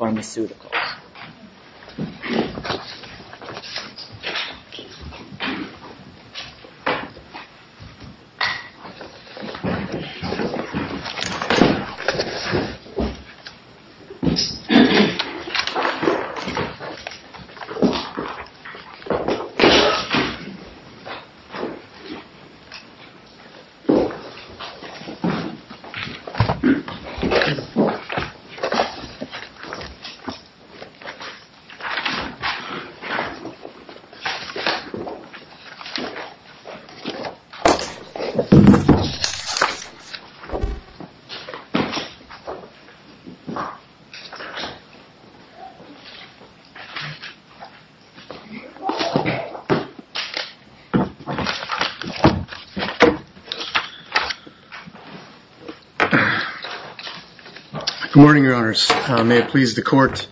Amneal Pharmaceuticals LLC Good morning, your honors. May it please the court.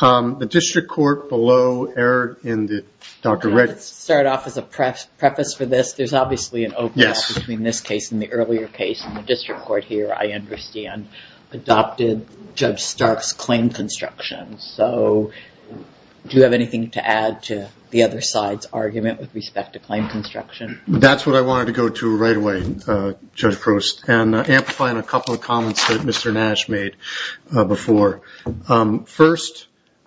The district court below error in the Dr. Reckitt. Let's start off as a preface for this. There's obviously an overlap between this case and the earlier case. In the district court here, I understand, adopted Judge Stark's claim construction. So do you have anything to add to the other side's argument with respect to claim construction? That's what I wanted to go to right away, Judge Frost. Amplifying a couple of comments that Mr. Nash made before. First,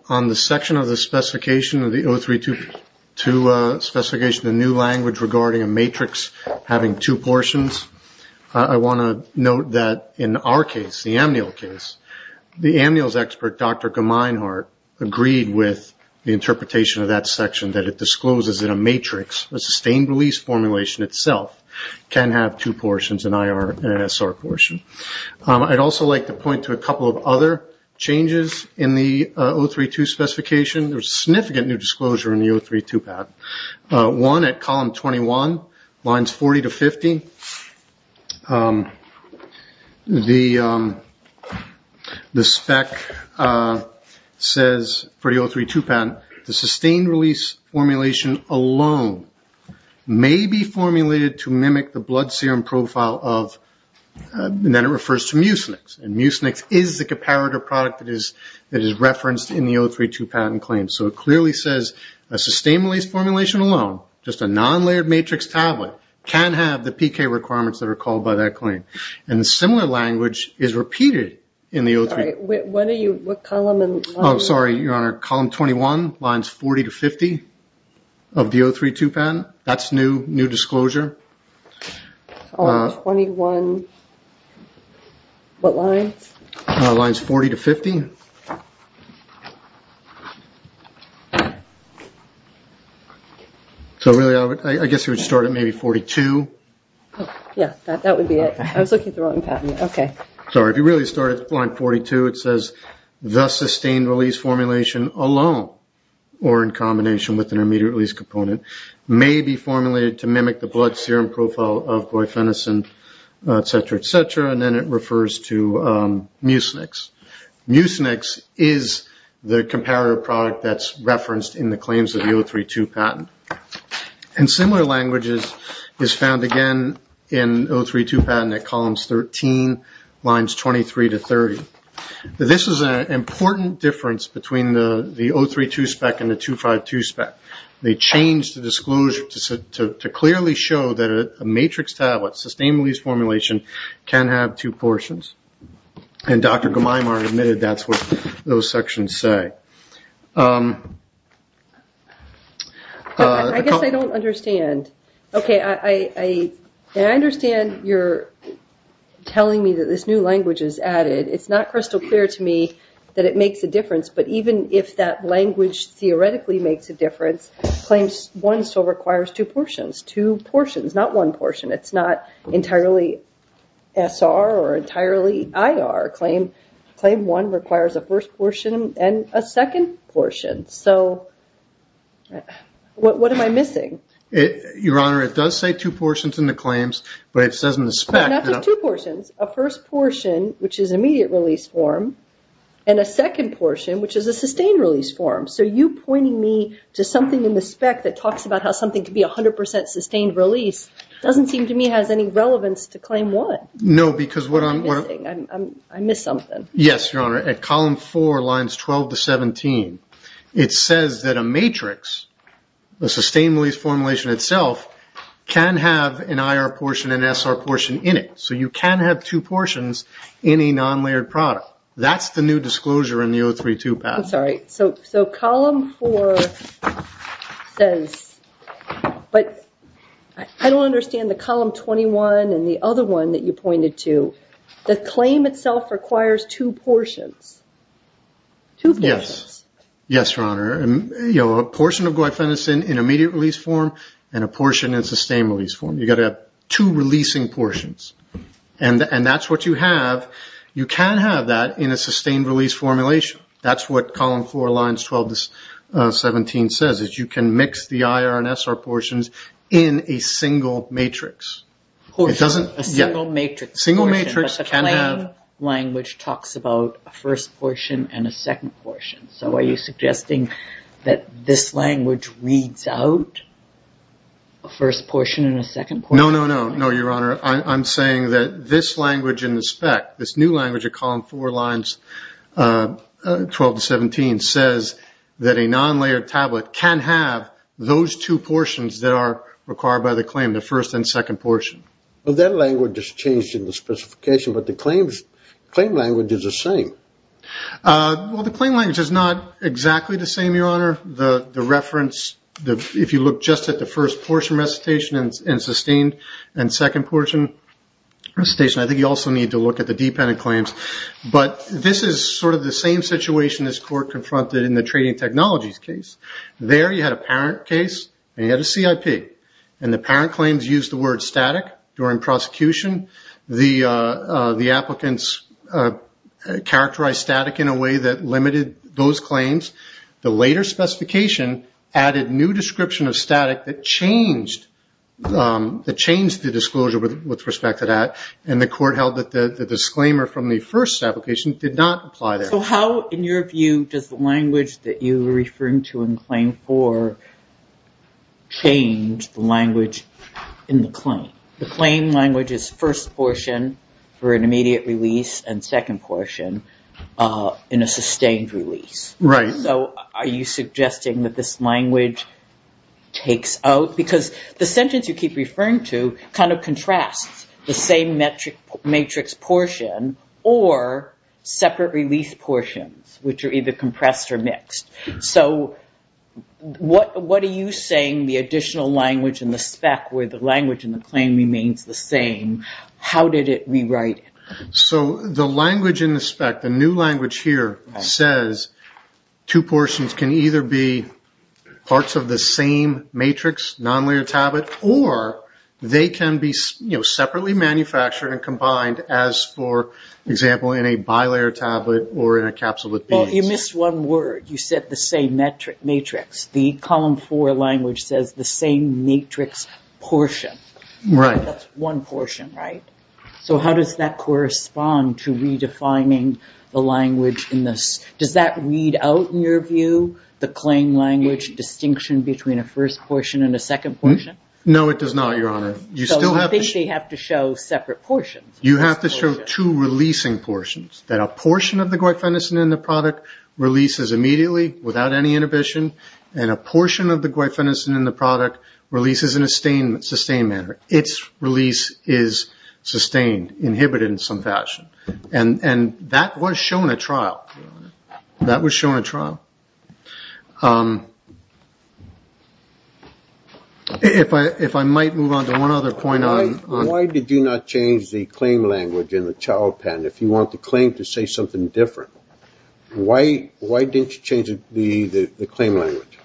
on the section of the specification of the 0322 specification, the new language regarding a matrix having two portions, I want to note that in our case, the Amneal case, the Amneal's expert, Dr. Gemeinhart, agreed with the interpretation of that section that it discloses in a matrix, a sustained release formulation itself, can have two portions, an IR and an SR portion. I'd also like to point to a couple of other changes in the 0322 specification. There's significant new disclosure in the 0322 patent. One, at column 21, lines 40 to 50, the spec says for the 0322 patent, the sustained release formulation alone may be formulated to mimic the blood serum profile of, and then it refers to mucinix. And mucinix is the comparative product that is referenced in the 0322 patent claim. So it clearly says a sustained release formulation alone, just a non-layered matrix tablet, can have the PK requirements that are called by that claim. And similar language is repeated in the 0322. Sorry, what are you, what column? Oh, sorry, Your Honor. Column 21, lines 40 to 50 of the 0322 patent, that's new, new disclosure. Column 21, what lines? Lines 40 to 50. So really, I guess you would start at maybe 42. Yeah, that would be it. I was looking at the wrong patent. Okay. Sorry, if you really start at line 42, it says the sustained release formulation alone, or in combination with an immediate release component, may be formulated to mimic the blood serum profile of glyphenosine, et cetera, et cetera, and then it refers to mucinix. Mucinix is the comparative product that's referenced in the claims of the 0322 patent. And similar language is found again in 0322 patent at columns 13, lines 23 to 30. This is an important difference between the 0322 spec and the 252 spec. They changed the disclosure to clearly show that a matrix tablet, sustained release formulation, can have two portions. And Dr. Gemmeimer admitted that's what those sections say. I guess I don't understand. Okay, I understand you're telling me that this new language is added. It's not crystal clear to me that it makes a difference, but even if that language theoretically makes a difference, claims one still requires two portions, two portions, not one portion. It's not entirely SR or entirely IR. Claim one requires a first portion and a second portion. So what am I missing? Your Honor, it does say two portions in the claims, but it says in the spec. Not just two portions. A first portion, which is immediate release form, and a second portion, which is a sustained release form. So you pointing me to something in the spec that talks about how something can be 100% sustained release doesn't seem to me has any relevance to claim one. No, because what I'm missing, I missed something. Yes, Your Honor. At column four, lines 12 to 17, it says that a matrix, the sustained release formulation itself, can have an IR portion and an SR portion in it. So you can have two portions in a non-layered product. That's the new disclosure in the 032 patent. I'm sorry. So column four says, but I don't understand the column 21 and the other one that you pointed to. The claim itself requires two portions. Yes. Yes, Your Honor. A portion of glyphosate in immediate release form and a portion in sustained release form. You've got to have two releasing portions. And that's what you have. You can have that in a sustained release formulation. That's what column four, lines 12 to 17 says, is you can mix the IR and SR portions in a single matrix. A single matrix. A single matrix can have. But the claim language talks about a first portion and a second portion. So are you suggesting that this language reads out a first portion and a second portion? No, no, no. No, Your Honor. I'm saying that this language in the spec, this new language in column four, lines 12 to 17, says that a non-layered tablet can have those two portions that are required by the claim, the first and second portion. Well, that language is changed in the specification, but the claim language is the same. Well, the claim language is not exactly the same, Your Honor. The reference, if you look just at the first portion recitation and sustained and second portion recitation, I think you also need to look at the dependent claims. But this is sort of the same situation as court confronted in the trading technologies case. There you had a parent case and you had a CIP, and the parent claims used the word static during prosecution. The applicants characterized static in a way that limited those claims. The later specification added new description of static that changed the disclosure with respect to that, and the court held that the disclaimer from the first application did not apply there. So how, in your view, does the language that you were referring to in claim four change the language in the claim? The claim language is first portion for an immediate release and second portion in a sustained release. Right. So are you suggesting that this language takes out? Because the sentence you keep referring to kind of contrasts the same matrix portion or separate release portions, which are either compressed or mixed. So what are you saying the additional language in the spec where the language in the claim remains the same, how did it rewrite it? So the language in the spec, the new language here, says two portions can either be parts of the same matrix, non-layer tablet, or they can be separately manufactured and combined as, for example, in a bi-layer tablet or in a capsule with beads. Well, you missed one word. You said the same matrix. The column four language says the same matrix portion. Right. That's one portion, right? So how does that correspond to redefining the language in this? Does that read out in your view the claim language distinction between a first portion and a second portion? No, it does not, Your Honor. So you think they have to show separate portions? You have to show two releasing portions, that a portion of the glyphosate in the product releases immediately without any inhibition, and a portion of the glyphosate in the product releases in a sustained manner. Its release is sustained, inhibited in some fashion. And that was shown at trial. That was shown at trial. If I might move on to one other point. Why did you not change the claim language in the child patent? If you want the claim to say something different, why didn't you change the claim language?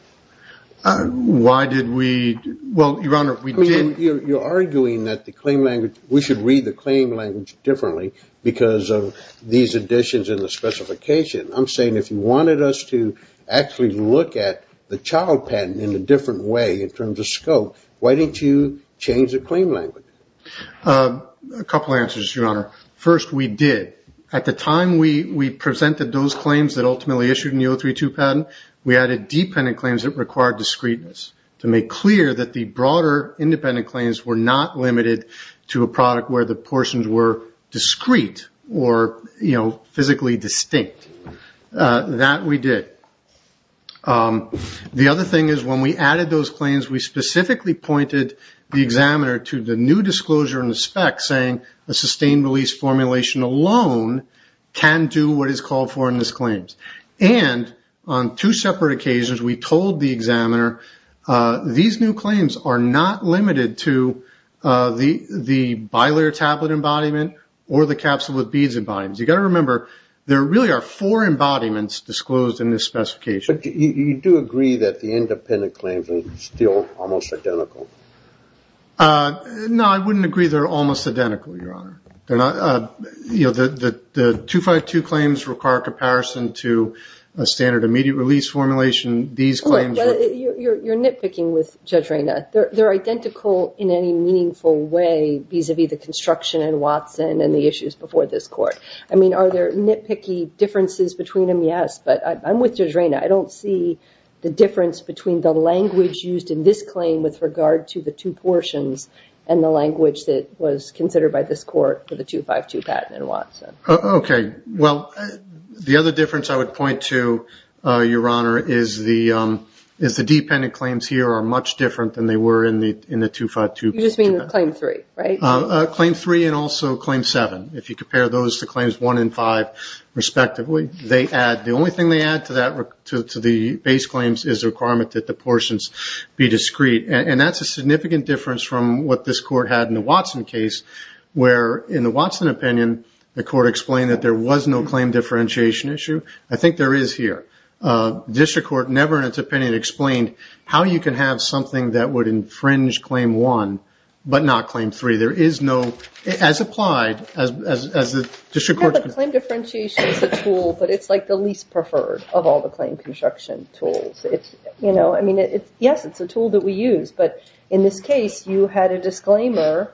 Why did we? Well, Your Honor, we did. You're arguing that the claim language, we should read the claim language differently because of these additions in the specification. I'm saying if you wanted us to actually look at the child patent in a different way in terms of scope, why didn't you change the claim language? A couple answers, Your Honor. First, we did. At the time we presented those claims that ultimately issued in the 032 patent, we added dependent claims that required discreteness to make clear that the broader independent claims were not limited to a product where the portions were discrete or, you know, physically distinct. That we did. The other thing is when we added those claims, we specifically pointed the examiner to the new disclosure in the spec saying a sustained release formulation alone can do what is called foreignness claims. And on two separate occasions we told the examiner these new claims are not limited to the bilayer tablet embodiment or the capsule with beads embodiment. You've got to remember there really are four embodiments disclosed in this specification. But you do agree that the independent claims are still almost identical? No, I wouldn't agree they're almost identical, Your Honor. You know, the 252 claims require comparison to a standard immediate release formulation. These claims were. You're nitpicking with Judge Reyna. They're identical in any meaningful way vis-a-vis the construction in Watson and the issues before this court. I mean, are there nitpicky differences between them? Yes. But I'm with Judge Reyna. I don't see the difference between the language used in this claim with regard to the two portions and the language that was considered by this court for the 252 patent in Watson. Okay. Well, the other difference I would point to, Your Honor, is the dependent claims here are much different than they were in the 252. You just mean claim three, right? Claim three and also claim seven. If you compare those to claims one and five respectively, the only thing they add to the base claims is the requirement that the portions be discreet. And that's a significant difference from what this court had in the Watson case where, in the Watson opinion, the court explained that there was no claim differentiation issue. I think there is here. The district court never in its opinion explained how you can have something that would infringe claim one but not claim three. There is no. As applied, as the district court. Yeah, but claim differentiation is a tool, but it's like the least preferred of all the claim construction tools. I mean, yes, it's a tool that we use, but in this case, you had a disclaimer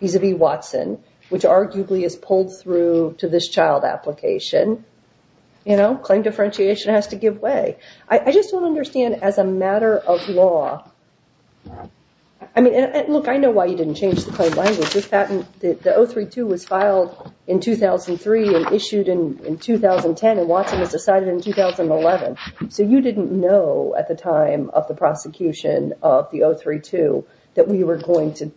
vis-à-vis Watson, which arguably is pulled through to this child application. Claim differentiation has to give way. I just don't understand as a matter of law. Look, I know why you didn't change the claim language. The 032 was filed in 2003 and issued in 2010 and Watson was decided in 2011. So you didn't know at the time of the prosecution of the 032 that we were going to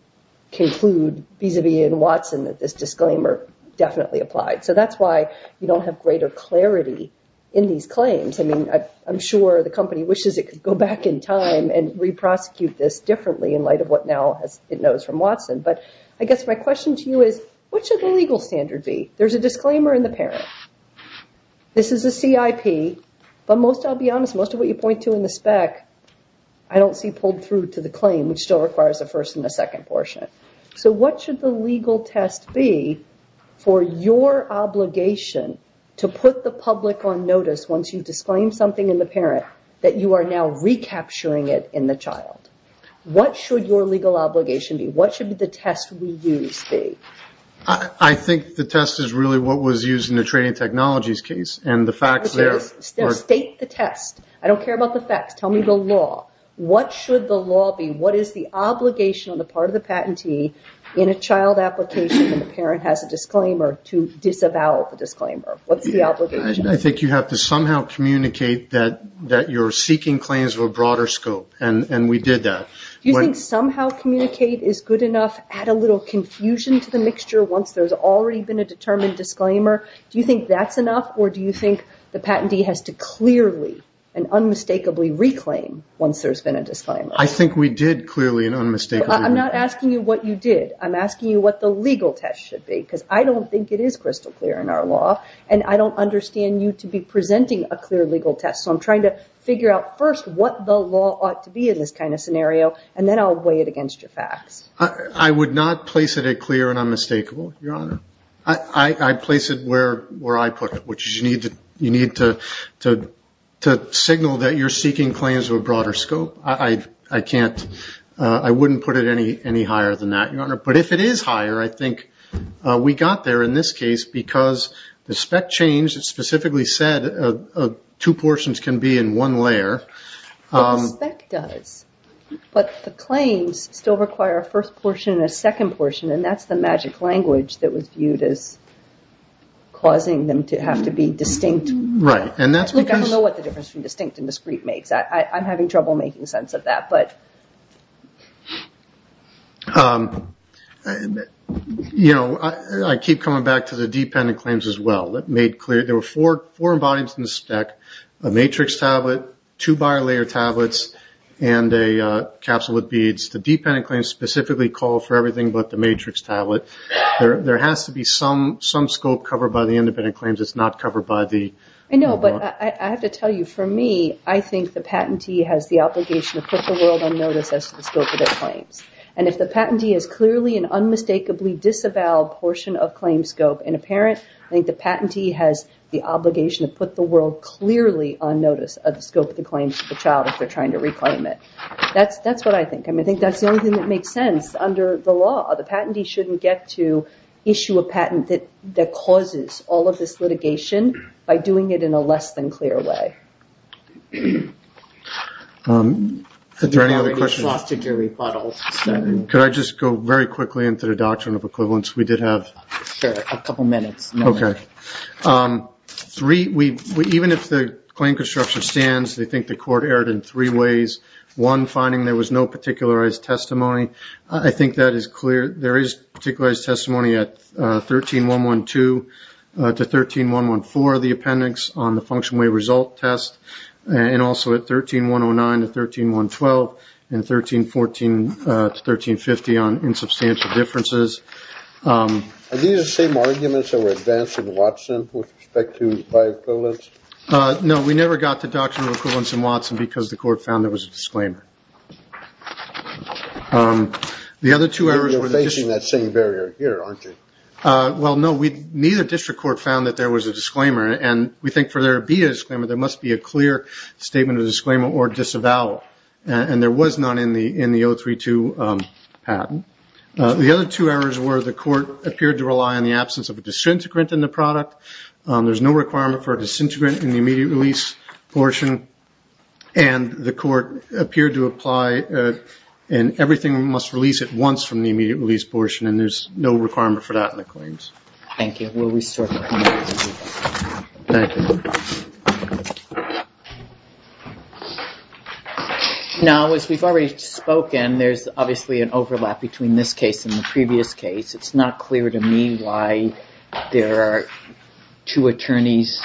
conclude vis-à-vis in Watson that this disclaimer definitely applied. So that's why you don't have greater clarity in these claims. I mean, I'm sure the company wishes it could go back in time and re-prosecute this differently in light of what now it knows from Watson. But I guess my question to you is, what should the legal standard be? There's a disclaimer in the parent. This is a CIP, but I'll be honest, most of what you point to in the spec I don't see pulled through to the claim, which still requires the first and the second portion. So what should the legal test be for your obligation to put the public on notice once you disclaim something in the parent that you are now recapturing it in the child? What should your legal obligation be? What should the test we use be? I think the test is really what was used in the trading technologies case. State the test. I don't care about the facts. Tell me the law. What should the law be? What is the obligation on the part of the patentee in a child application when the parent has a disclaimer to disavow the disclaimer? What's the obligation? I think you have to somehow communicate that you're seeking claims of a broader scope, and we did that. Do you think somehow communicate is good enough? Add a little confusion to the mixture once there's already been a determined disclaimer? Do you think that's enough, or do you think the patentee has to clearly and unmistakably reclaim once there's been a disclaimer? I think we did clearly and unmistakably reclaim. I'm not asking you what you did. I'm asking you what the legal test should be, because I don't think it is crystal clear in our law, and I don't understand you to be presenting a clear legal test. So I'm trying to figure out first what the law ought to be in this kind of scenario, and then I'll weigh it against your facts. I would not place it at clear and unmistakable, Your Honor. I'd place it where I put it, which is you need to signal that you're seeking claims of a broader scope. I can't. I wouldn't put it any higher than that, Your Honor. But if it is higher, I think we got there in this case because the spec changed. It specifically said two portions can be in one layer. The spec does, but the claims still require a first portion and a second portion, and that's the magic language that was viewed as causing them to have to be distinct. Right. I don't know what the difference between distinct and discrete makes. I'm having trouble making sense of that. You know, I keep coming back to the dependent claims as well. There were four embodiments in the spec, a matrix tablet, two bi-layer tablets, and a capsule with beads. The dependent claims specifically call for everything but the matrix tablet. There has to be some scope covered by the independent claims. It's not covered by the law. I know, but I have to tell you, for me, I think the patentee has the obligation to put the world on notice as to the scope of their claims. And if the patentee is clearly an unmistakably disavowed portion of claim scope in a parent, I think the patentee has the obligation to put the world clearly on notice of the scope of the claims to the child if they're trying to reclaim it. That's what I think. I mean, I think that's the only thing that makes sense under the law. The patentee shouldn't get to issue a patent that causes all of this litigation by doing it in a less than clear way. Is there any other questions? You've already frosted your rebuttal. Could I just go very quickly into the doctrine of equivalence? We did have... Sure, a couple minutes. Okay. Even if the claim construction stands, they think the court erred in three ways. One, finding there was no particularized testimony. I think that is clear. There is particularized testimony at 13.112 to 13.114 of the appendix on the function way result test, and also at 13.109 to 13.112 and 13.14 to 13.50 on insubstantial differences. Are these the same arguments that were advanced in Watson with respect to by equivalence? No, we never got the doctrine of equivalence in Watson because the court found there was a disclaimer. You're facing that same barrier here, aren't you? Well, no, neither district court found that there was a disclaimer, and we think for there to be a disclaimer there must be a clear statement of disclaimer or disavowal, and there was none in the 032 patent. The other two errors were the court appeared to rely on the absence of a disintegrant in the product. There's no requirement for a disintegrant in the immediate release portion, and the court appeared to apply and everything must release at once from the immediate release portion, and there's no requirement for that in the claims. Thank you. Will we start with you? Thank you. Now, as we've already spoken, there's obviously an overlap between this case and the previous case. It's not clear to me why there are two attorneys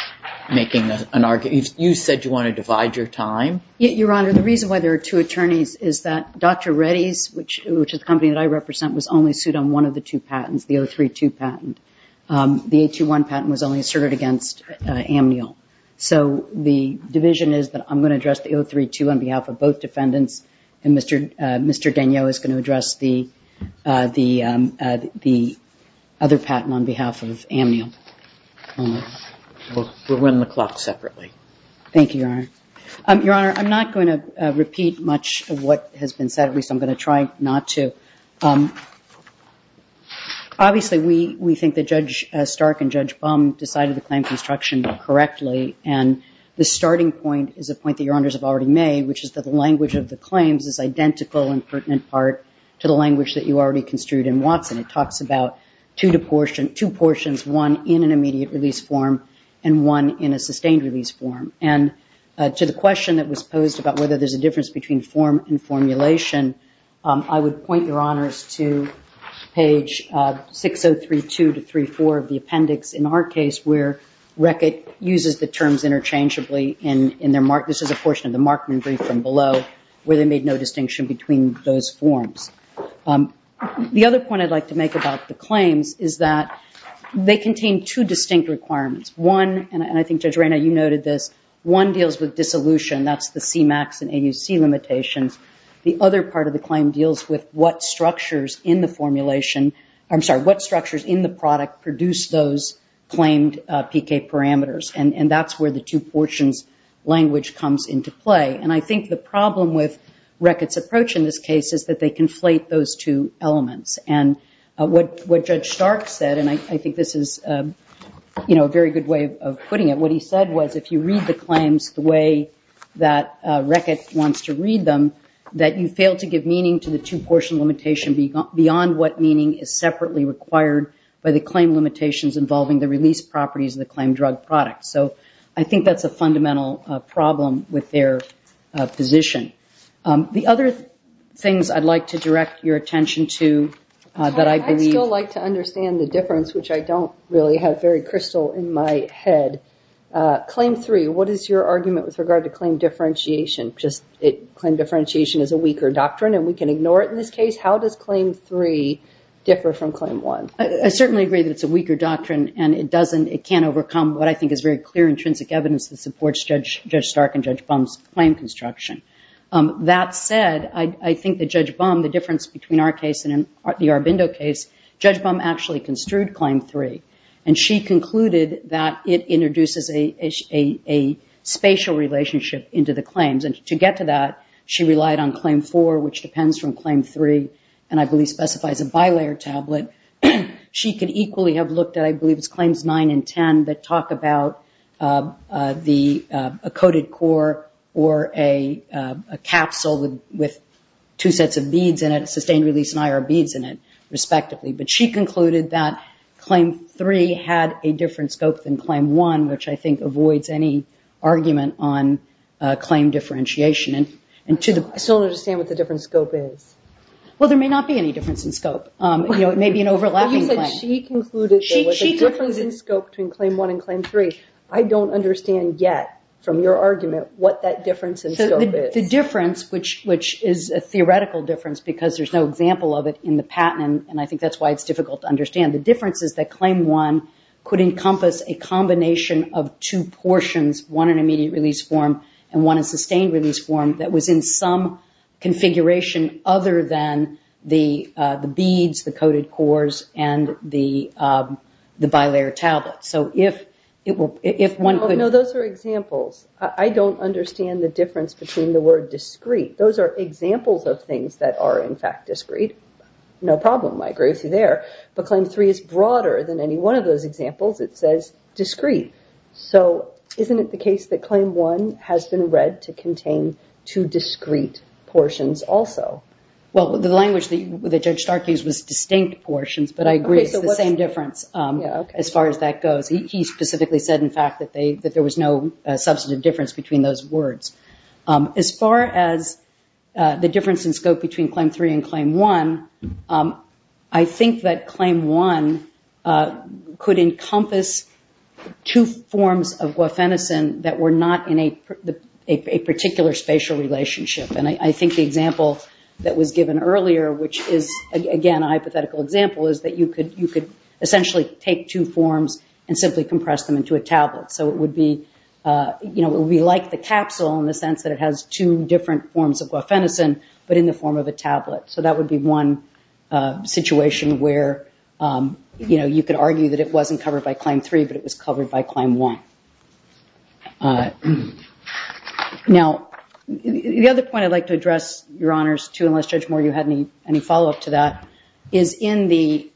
making an argument. You said you want to divide your time. Your Honor, the reason why there are two attorneys is that Dr. Reddy's, which is the company that I represent, was only sued on one of the two patents, the 032 patent. The 821 patent was only asserted against Amniel. So the division is that I'm going to address the 032 on behalf of both defendants, and Mr. Danieau is going to address the other patent on behalf of Amniel. We'll run the clock separately. Thank you, Your Honor. Your Honor, I'm not going to repeat much of what has been said. At least I'm going to try not to. Obviously, we think that Judge Stark and Judge Baum decided the claim construction correctly, and the starting point is a point that Your Honors have already made, which is that the language of the claims is identical in pertinent part to the language that you already construed in Watson. It talks about two portions, one in an immediate release form and one in a sustained release form. And to the question that was posed about whether there's a difference between form and formulation, I would point Your Honors to page 6032-304 of the appendix in our case, where Reckitt uses the terms interchangeably. This is a portion of the Markman brief from below where they made no distinction between those forms. The other point I'd like to make about the claims is that they contain two distinct requirements. One, and I think Judge Reyna, you noted this, one deals with dissolution. That's the CMAX and AUC limitations. The other part of the claim deals with what structures in the formulation, I'm sorry, what structures in the product produce those claimed PK parameters. And that's where the two portions language comes into play. And I think the problem with Reckitt's approach in this case is that they conflate those two elements. And what Judge Stark said, and I think this is a very good way of putting it, what he said was if you read the claims the way that Reckitt wants to read them, that you fail to give meaning to the two-portion limitation beyond what meaning is separately required by the claim limitations involving the release properties of the claimed drug product. So I think that's a fundamental problem with their position. The other things I'd like to direct your attention to that I believe- Claim three, what is your argument with regard to claim differentiation? Claim differentiation is a weaker doctrine and we can ignore it in this case. How does claim three differ from claim one? I certainly agree that it's a weaker doctrine and it can't overcome what I think is very clear, intrinsic evidence that supports Judge Stark and Judge Bum's claim construction. That said, I think that Judge Bum, the difference between our case and the Arbindo case, Judge Bum actually construed claim three, and she concluded that it introduces a spatial relationship into the claims. And to get to that, she relied on claim four, which depends from claim three, and I believe specifies a bilayer tablet. She could equally have looked at, I believe it's claims nine and ten, that talk about a coded core or a capsule with two sets of beads in it, sustained release and IR beads in it, respectively. But she concluded that claim three had a different scope than claim one, which I think avoids any argument on claim differentiation. I still don't understand what the different scope is. Well, there may not be any difference in scope. It may be an overlapping claim. But you said she concluded there was a difference in scope between claim one and claim three. I don't understand yet, from your argument, what that difference in scope is. The difference, which is a theoretical difference, because there's no example of it in the patent, and I think that's why it's difficult to understand, the difference is that claim one could encompass a combination of two portions, one an immediate release form and one a sustained release form, that was in some configuration other than the beads, the coded cores, and the bilayer tablet. So if one could – No, those are examples. I don't understand the difference between the word discrete. Those are examples of things that are, in fact, discrete. No problem. I agree with you there. But claim three is broader than any one of those examples. It says discrete. So isn't it the case that claim one has been read to contain two discrete portions also? Well, the language that Judge Stark used was distinct portions, but I agree it's the same difference as far as that goes. He specifically said, in fact, that there was no substantive difference between those words. As far as the difference in scope between claim three and claim one, I think that claim one could encompass two forms of guafenocin that were not in a particular spatial relationship. And I think the example that was given earlier, which is, again, a hypothetical example, is that you could essentially take two forms and simply compress them into a tablet. So it would be like the capsule in the sense that it has two different forms of guafenocin, but in the form of a tablet. So that would be one situation where you could argue that it wasn't covered by claim three, but it was covered by claim one. Now, the other point I'd like to address, Your Honors, unless, Judge Moore, you had any follow-up to that, is in the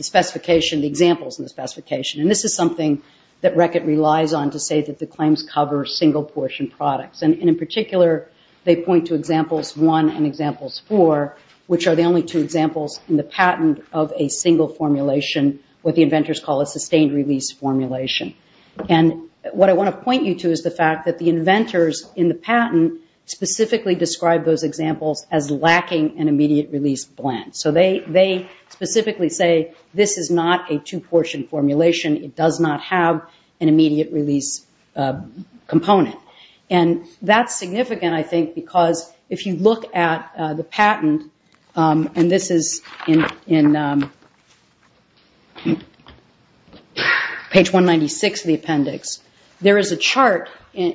specification, the examples in the specification. And this is something that RECCIT relies on to say that the claims cover single-portion products. And in particular, they point to examples one and examples four, which are the only two examples in the patent of a single formulation, what the inventors call a sustained-release formulation. And what I want to point you to is the fact that the inventors in the patent specifically describe those examples as lacking an immediate-release blend. So they specifically say this is not a two-portion formulation. It does not have an immediate-release component. And that's significant, I think, because if you look at the patent, and this is in page 196 of the appendix, there is a chart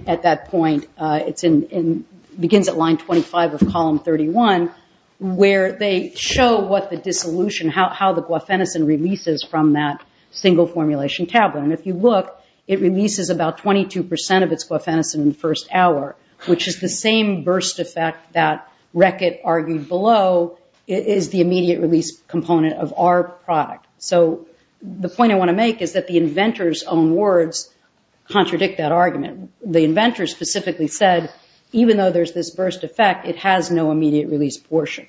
at that point. It begins at line 25 of column 31, where they show what the dissolution, how the guafenicin releases from that single-formulation tablet. And if you look, it releases about 22 percent of its guafenicin in the first hour, which is the same burst effect that RECCIT argued below is the immediate-release component of our product. So the point I want to make is that the inventors' own words contradict that argument. The inventors specifically said, even though there's this burst effect, it has no immediate-release portion.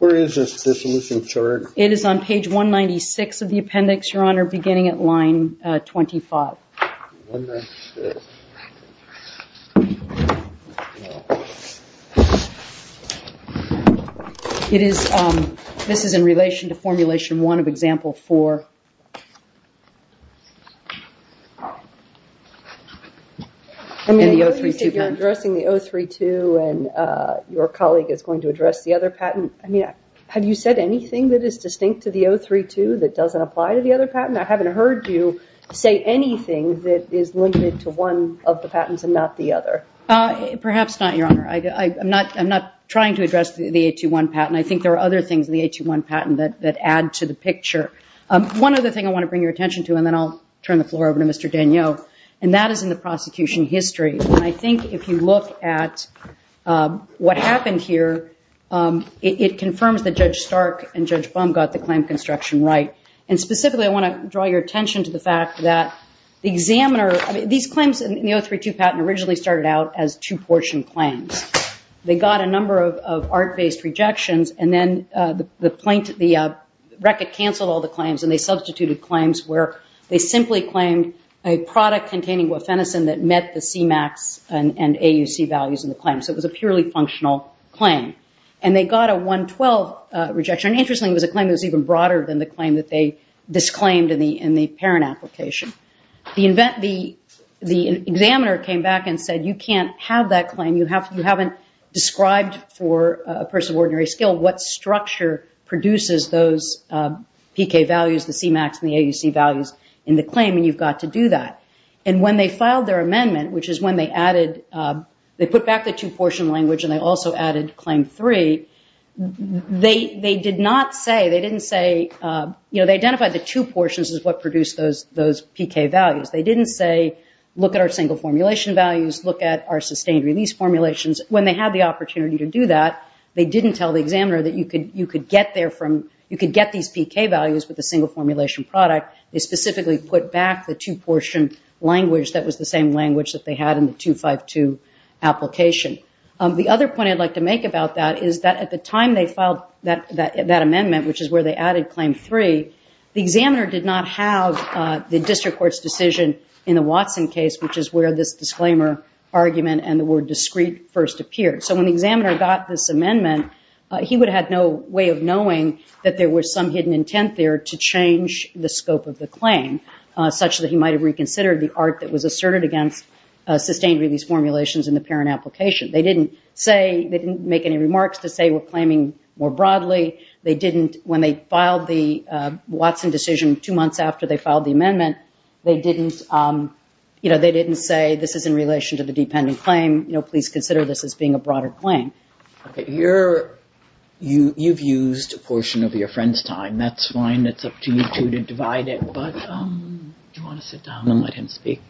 Where is this dissolution chart? It is on page 196 of the appendix, Your Honor, beginning at line 25. This is in relation to formulation one of example four. I mean, you said you're addressing the 032, and your colleague is going to address the other patent. I mean, have you said anything that is distinct to the 032 that doesn't apply to the other patent? I haven't heard you say anything that is limited to one of the patents and not the other. Perhaps not, Your Honor. I'm not trying to address the 821 patent. I think there are other things in the 821 patent that add to the picture. One other thing I want to bring your attention to, and then I'll turn the floor over to Mr. Danio, and that is in the prosecution history. And I think if you look at what happened here, it confirms that Judge Stark and Judge Bum got the claim construction right. And specifically, I want to draw your attention to the fact that the examiner, I mean, these claims in the 032 patent originally started out as two-portion claims. They got a number of art-based rejections, and then the record canceled all the claims, and they substituted claims where they simply claimed a product containing that met the CMAX and AUC values in the claim. So it was a purely functional claim. And they got a 112 rejection. Interestingly, it was a claim that was even broader than the claim that they disclaimed in the parent application. The examiner came back and said, you can't have that claim. You haven't described for a person of ordinary skill what structure produces those PK values, the CMAX and the AUC values in the claim, and you've got to do that. And when they filed their amendment, which is when they added, they put back the two-portion language and they also added claim three, they did not say, they didn't say, you know, they identified the two portions as what produced those PK values. They didn't say, look at our single formulation values, look at our sustained release formulations. When they had the opportunity to do that, they didn't tell the examiner that you could get there from, you could get these PK values with a single formulation product. They specifically put back the two-portion language that was the same language that they had in the 252 application. The other point I'd like to make about that is that at the time they filed that amendment, which is where they added claim three, the examiner did not have the district court's decision in the Watson case, which is where this disclaimer argument and the word discreet first appeared. So when the examiner got this amendment, he would have no way of knowing that there was some hidden intent there to change the scope of the claim, such that he might have reconsidered the art that was asserted against sustained release formulations in the parent application. They didn't make any remarks to say we're claiming more broadly. When they filed the Watson decision two months after they filed the amendment, they didn't say this is in relation to the dependent claim. Please consider this as being a broader claim. You've used a portion of your friend's time. That's fine. It's up to you two to divide it, but do you want to sit down and let him speak?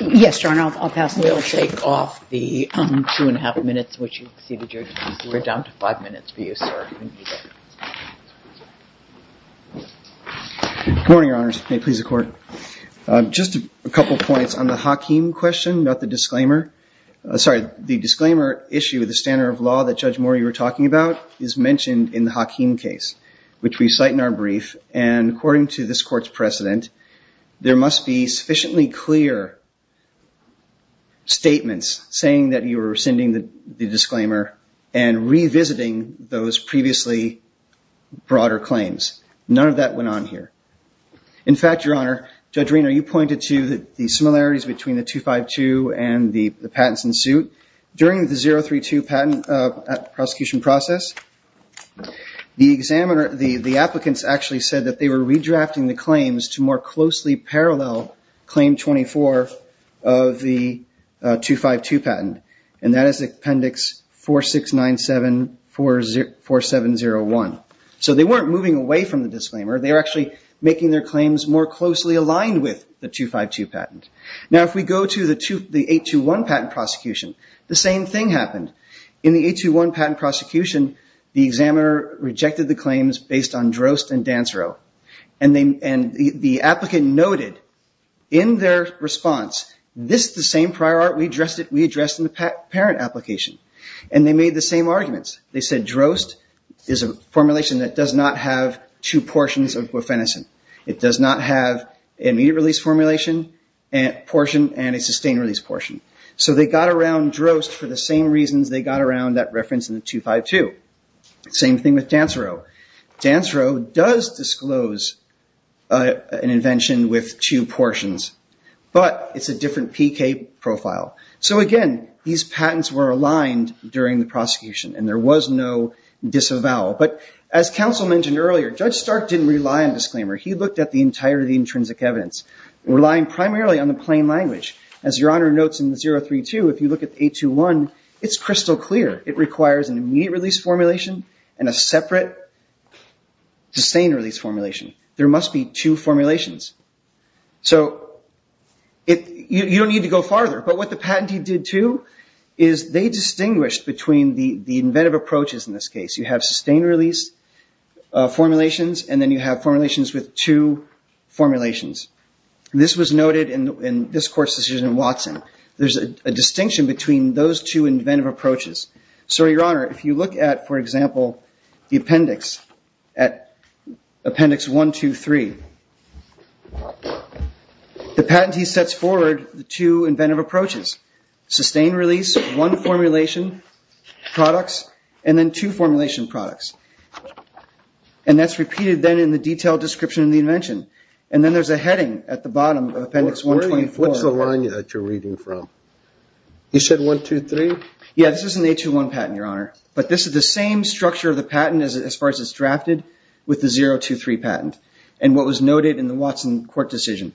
Yes, Your Honor, I'll pass. We'll take off the two and a half minutes, which we're down to five minutes for you, sir. Good morning, Your Honors. May it please the Court. Just a couple of points on the Hakeem question, not the disclaimer. Sorry, the disclaimer issue, the standard of law that Judge Morey was talking about, is mentioned in the Hakeem case, which we cite in our brief. And according to this Court's precedent, there must be sufficiently clear statements saying that you are rescinding the disclaimer and revisiting those previously broader claims. None of that went on here. In fact, Your Honor, Judge Reno, you pointed to the similarities between the 252 and the patents in suit. During the 032 patent prosecution process, the applicants actually said that they were redrafting the claims to more closely parallel Claim 24 of the 252 patent. And that is Appendix 4697-4701. So they weren't moving away from the disclaimer. They were actually making their claims more closely aligned with the 252 patent. Now, if we go to the 821 patent prosecution, the same thing happened. In the 821 patent prosecution, the examiner rejected the claims based on Drost and Dansreau. And the applicant noted in their response, this is the same prior art we addressed in the parent application. And they made the same arguments. They said Drost is a formulation that does not have two portions of bufenicin. It does not have an immediate release formulation portion and a sustained release portion. So they got around Drost for the same reasons they got around that reference in the 252. Same thing with Dansreau. Dansreau does disclose an invention with two portions, but it's a different PK profile. So again, these patents were aligned during the prosecution, and there was no disavowal. But as counsel mentioned earlier, Judge Stark didn't rely on disclaimer. He looked at the entirety of the intrinsic evidence, relying primarily on the plain language. As Your Honor notes in the 032, if you look at the 821, it's crystal clear. It requires an immediate release formulation and a separate sustained release formulation. There must be two formulations. So you don't need to go farther. But what the patentee did, too, is they distinguished between the inventive approaches in this case. You have sustained release formulations, and then you have formulations with two formulations. This was noted in this court's decision in Watson. There's a distinction between those two inventive approaches. So, Your Honor, if you look at, for example, the appendix at appendix 123, the patentee sets forward the two inventive approaches, sustained release, one formulation, products, and then two formulation products. And that's repeated then in the detailed description of the invention. And then there's a heading at the bottom of appendix 124. What's the line that you're reading from? You said 123? Yeah, this is an 821 patent, Your Honor. But this is the same structure of the patent as far as it's drafted with the 023 patent. And what was noted in the Watson court decision,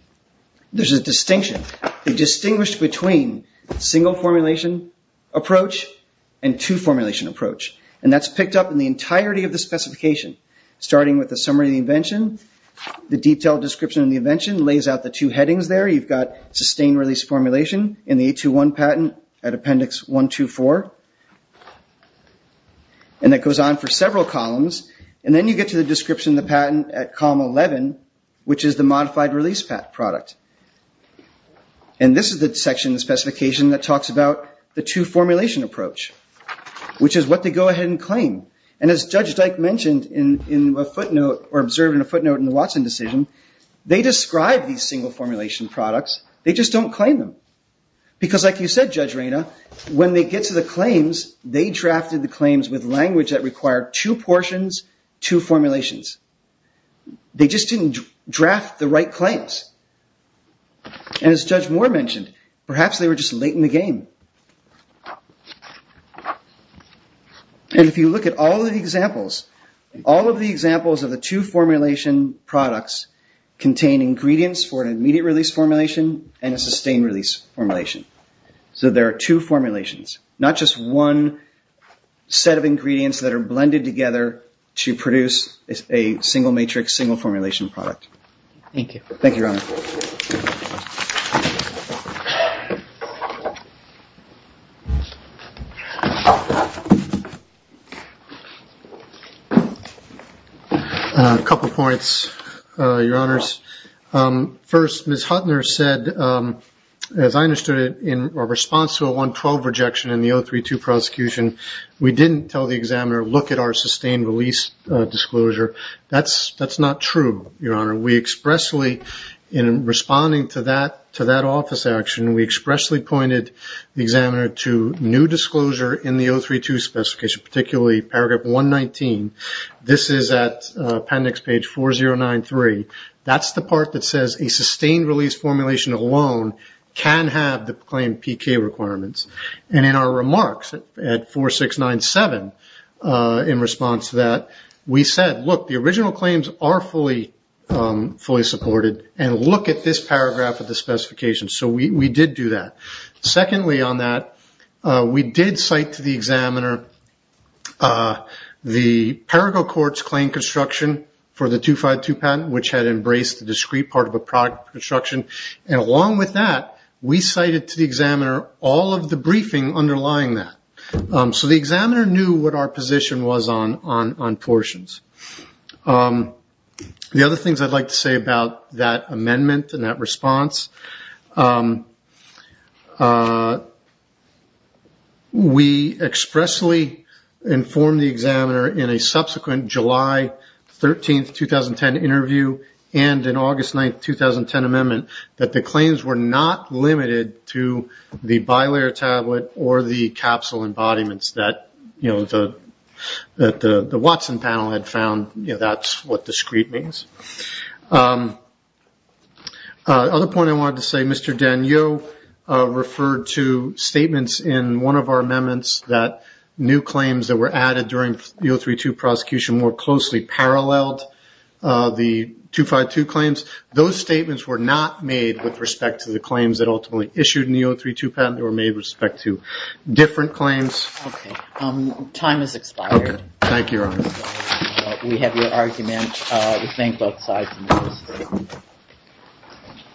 there's a distinction. They distinguished between single formulation approach and two formulation approach. And that's picked up in the entirety of the specification, starting with the summary of the invention. The detailed description of the invention lays out the two headings there. You've got sustained release formulation in the 821 patent at appendix 124. And that goes on for several columns. And then you get to the description of the patent at column 11, which is the modified release product. And this is the section in the specification that talks about the two formulation approach, which is what they go ahead and claim. And as Judge Dyke mentioned in a footnote or observed in a footnote in the Watson decision, they describe these single formulation products. They just don't claim them. Because like you said, Judge Reyna, when they get to the claims, they drafted the claims with language that required two portions, two formulations. They just didn't draft the right claims. And as Judge Moore mentioned, perhaps they were just late in the game. And if you look at all of the examples, all of the examples of the two formulation products contain ingredients for an immediate release formulation and a sustained release formulation. So there are two formulations, not just one set of ingredients that are blended together to produce a single matrix, single formulation product. Thank you. Thank you, Your Honor. A couple of points, Your Honors. First, Ms. Huttner said, as I understood it, in response to a 112 rejection in the 032 prosecution, we didn't tell the examiner, look at our sustained release disclosure. That's not true, Your Honor. We expressly, in responding to that office action, we expressly pointed the examiner to new disclosure in the 032 specification, particularly paragraph 119. This is at appendix page 4093. That's the part that says a sustained release formulation alone can have the claim PK requirements. And in our remarks at 4697, in response to that, we said, look, the original claims are fully supported, and look at this paragraph of the specification. So we did do that. Secondly on that, we did cite to the examiner the Parago Courts claim construction for the 252 patent, which had embraced the discrete part of a product construction. And along with that, we cited to the examiner all of the briefing underlying that. So the examiner knew what our position was on portions. The other things I'd like to say about that amendment and that response, we expressly informed the examiner in a subsequent July 13, 2010, interview, and in August 9, 2010, amendment, that the claims were not limited to the bilayer tablet or the capsule embodiments that the Watson panel had found. That's what discrete means. The other point I wanted to say, Mr. Daniel referred to statements in one of our amendments that new claims that were added during the 032 prosecution more closely paralleled the 252 claims. Those statements were not made with respect to the claims that ultimately issued in the 032 patent. They were made with respect to different claims. Okay. Time has expired. Okay. Thank you, Your Honor. We have your argument. We thank both sides.